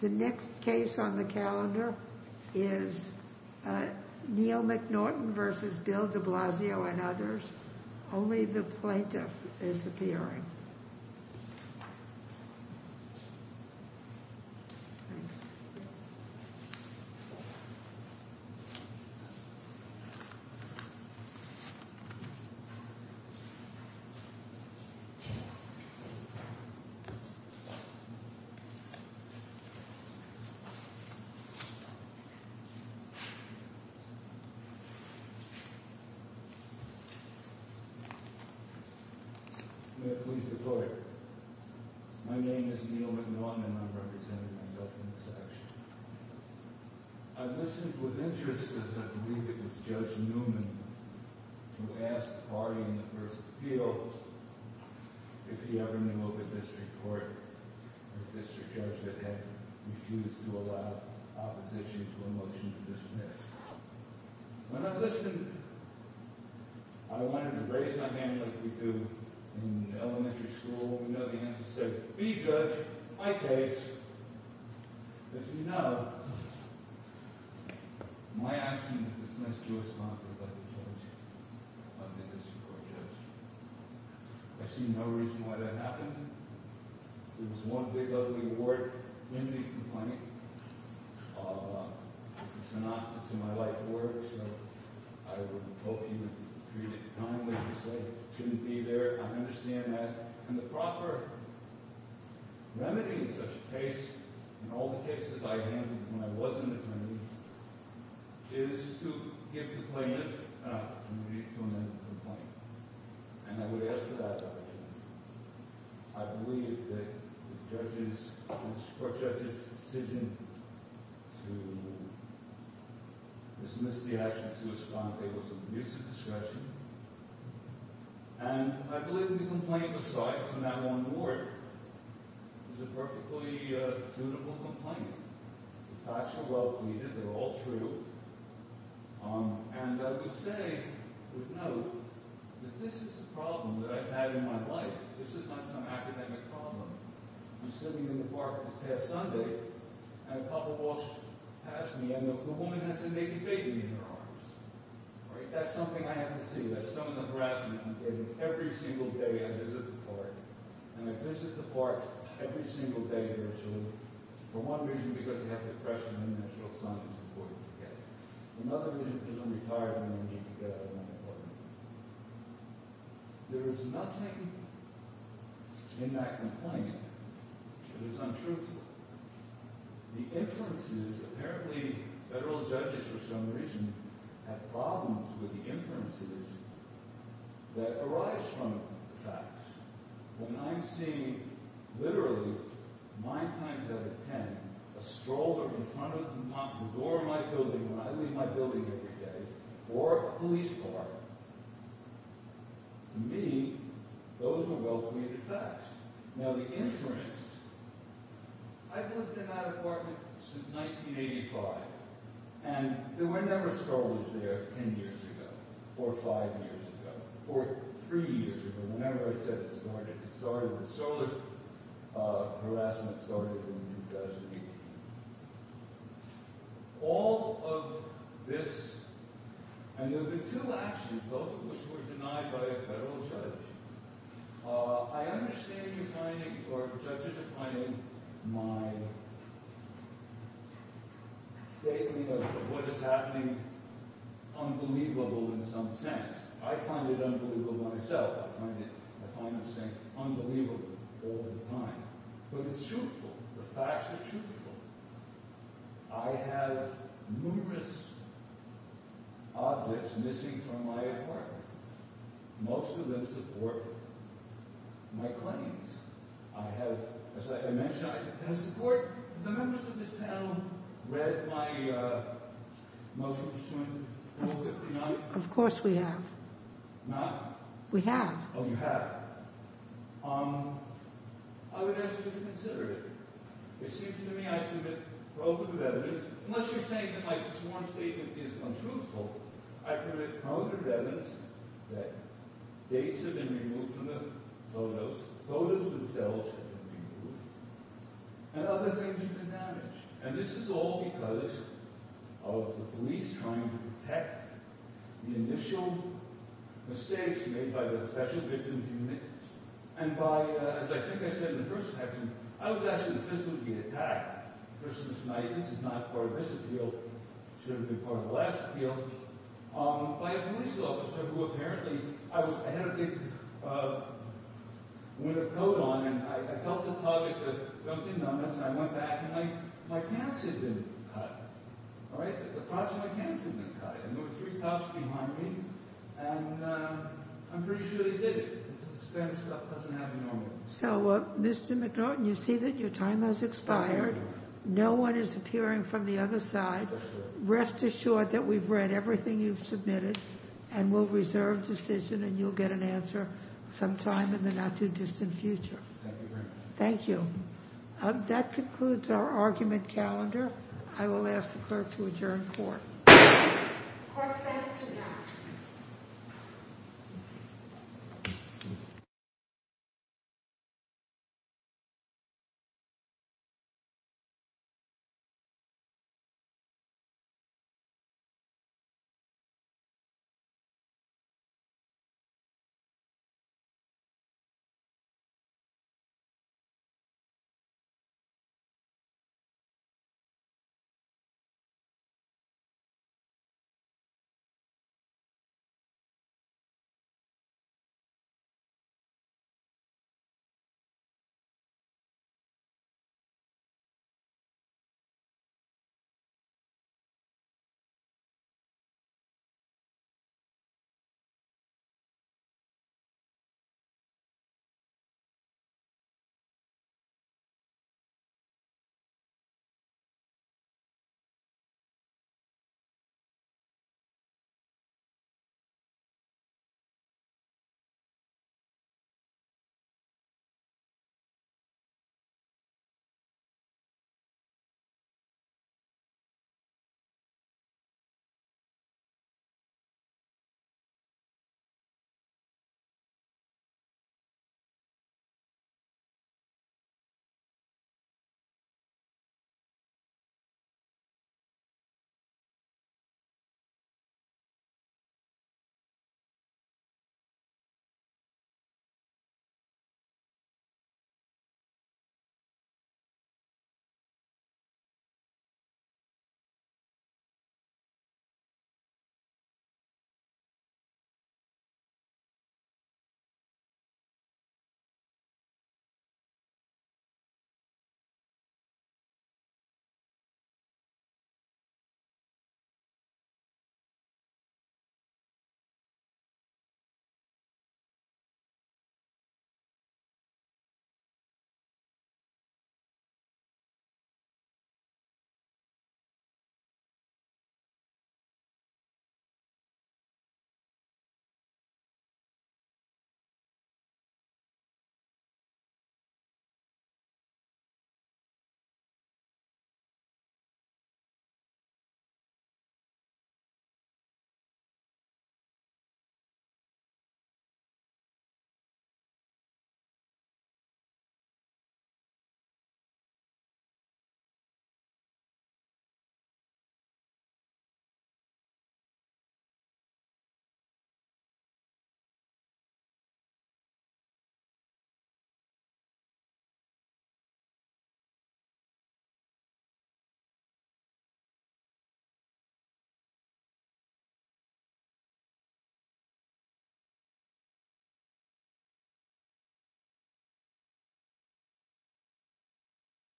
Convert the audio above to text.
The next case on the calendar is Neal McNaughton v. Bill de Blasio and others, only the plaintiff May it please the court, my name is Neal McNaughton and I'm representing myself in this action I've listened with interest, I believe it was Judge Newman who asked the party in the first appeal if he ever knew of a district court or a district judge that had refused to allow opposition to a motion to dismiss When I listened, I wanted to raise my hand like we do in elementary school, we know the answer is to be judge, my case That's how my life works, so I would hope he would treat it kindly to say it shouldn't be there, I understand that And the proper remedy in such a case, in all the cases I've handled when I was an attorney, is to give the plaintiff and the defendant a complaint And I would ask for that opportunity, I believe that the court judge's decision to dismiss the action to respond to it was a misdiscretion And I believe that the complaint was filed from that one ward, it was a perfectly suitable complaint, the facts are well pleaded, they're all true And I would say, I would note, that this is a problem that I've had in my life, this is not some academic problem I'm sitting in the park this past Sunday and a couple walks past me and the woman has a naked baby in her arms That's something I have to see, that's some of the harassment I'm getting every single day I visit the park And I visit the park every single day virtually, for one reason, because I have depression and the natural sun is important to get Another reason, because I'm retired and I need to get out of my apartment There is nothing in that complaint that is untruthful The inferences, apparently federal judges for some reason have problems with the inferences that arise from the facts When I'm seeing, literally, nine times out of ten, a stroller in front of the door of my building when I leave my building every day Or a police car, to me, those are well pleaded facts Now the inference, I've lived in that apartment since 1985 And there were never strollers there ten years ago, or five years ago, or three years ago, whenever I said it started The stroller harassment started in 2008 All of this, and there were two actions, both of which were denied by a federal judge I understand you finding, or judges are finding my statement of what is happening unbelievable in some sense I find it unbelievable myself, I find this thing unbelievable all the time But it's truthful, the facts are truthful I have numerous objects missing from my apartment Most of them support my claims I have, as I mentioned, has the members of this panel read my motion pursuant to rule 59? Of course we have Not? We have Oh, you have I would ask you to consider it It seems to me I submit proven good evidence That dates have been removed from the photos, photos themselves have been removed And other things have been damaged And this is all because of the police trying to protect the initial mistakes made by the Special Victims Unit And by, as I think I said in the first section, I was asking if this would be attacked A person with tinnitus is not part of this appeal, should have been part of the last appeal By a police officer, who apparently I had a big winter coat on And I helped a colleague that jumped in on this, and I went back And my pants had been cut The parts of my pants had been cut And there were three cuffs behind me And I'm pretty sure they did it Because this kind of stuff doesn't happen normally So, Mr. McNaughton, you see that your time has expired No one is appearing from the other side Rest assured that we've read everything you've submitted And we'll reserve decision and you'll get an answer sometime in the not too distant future Thank you very much Thank you That concludes our argument calendar I will ask the clerk to adjourn court Court is adjourned Thank you Thank you Thank you Thank you Thank you Thank you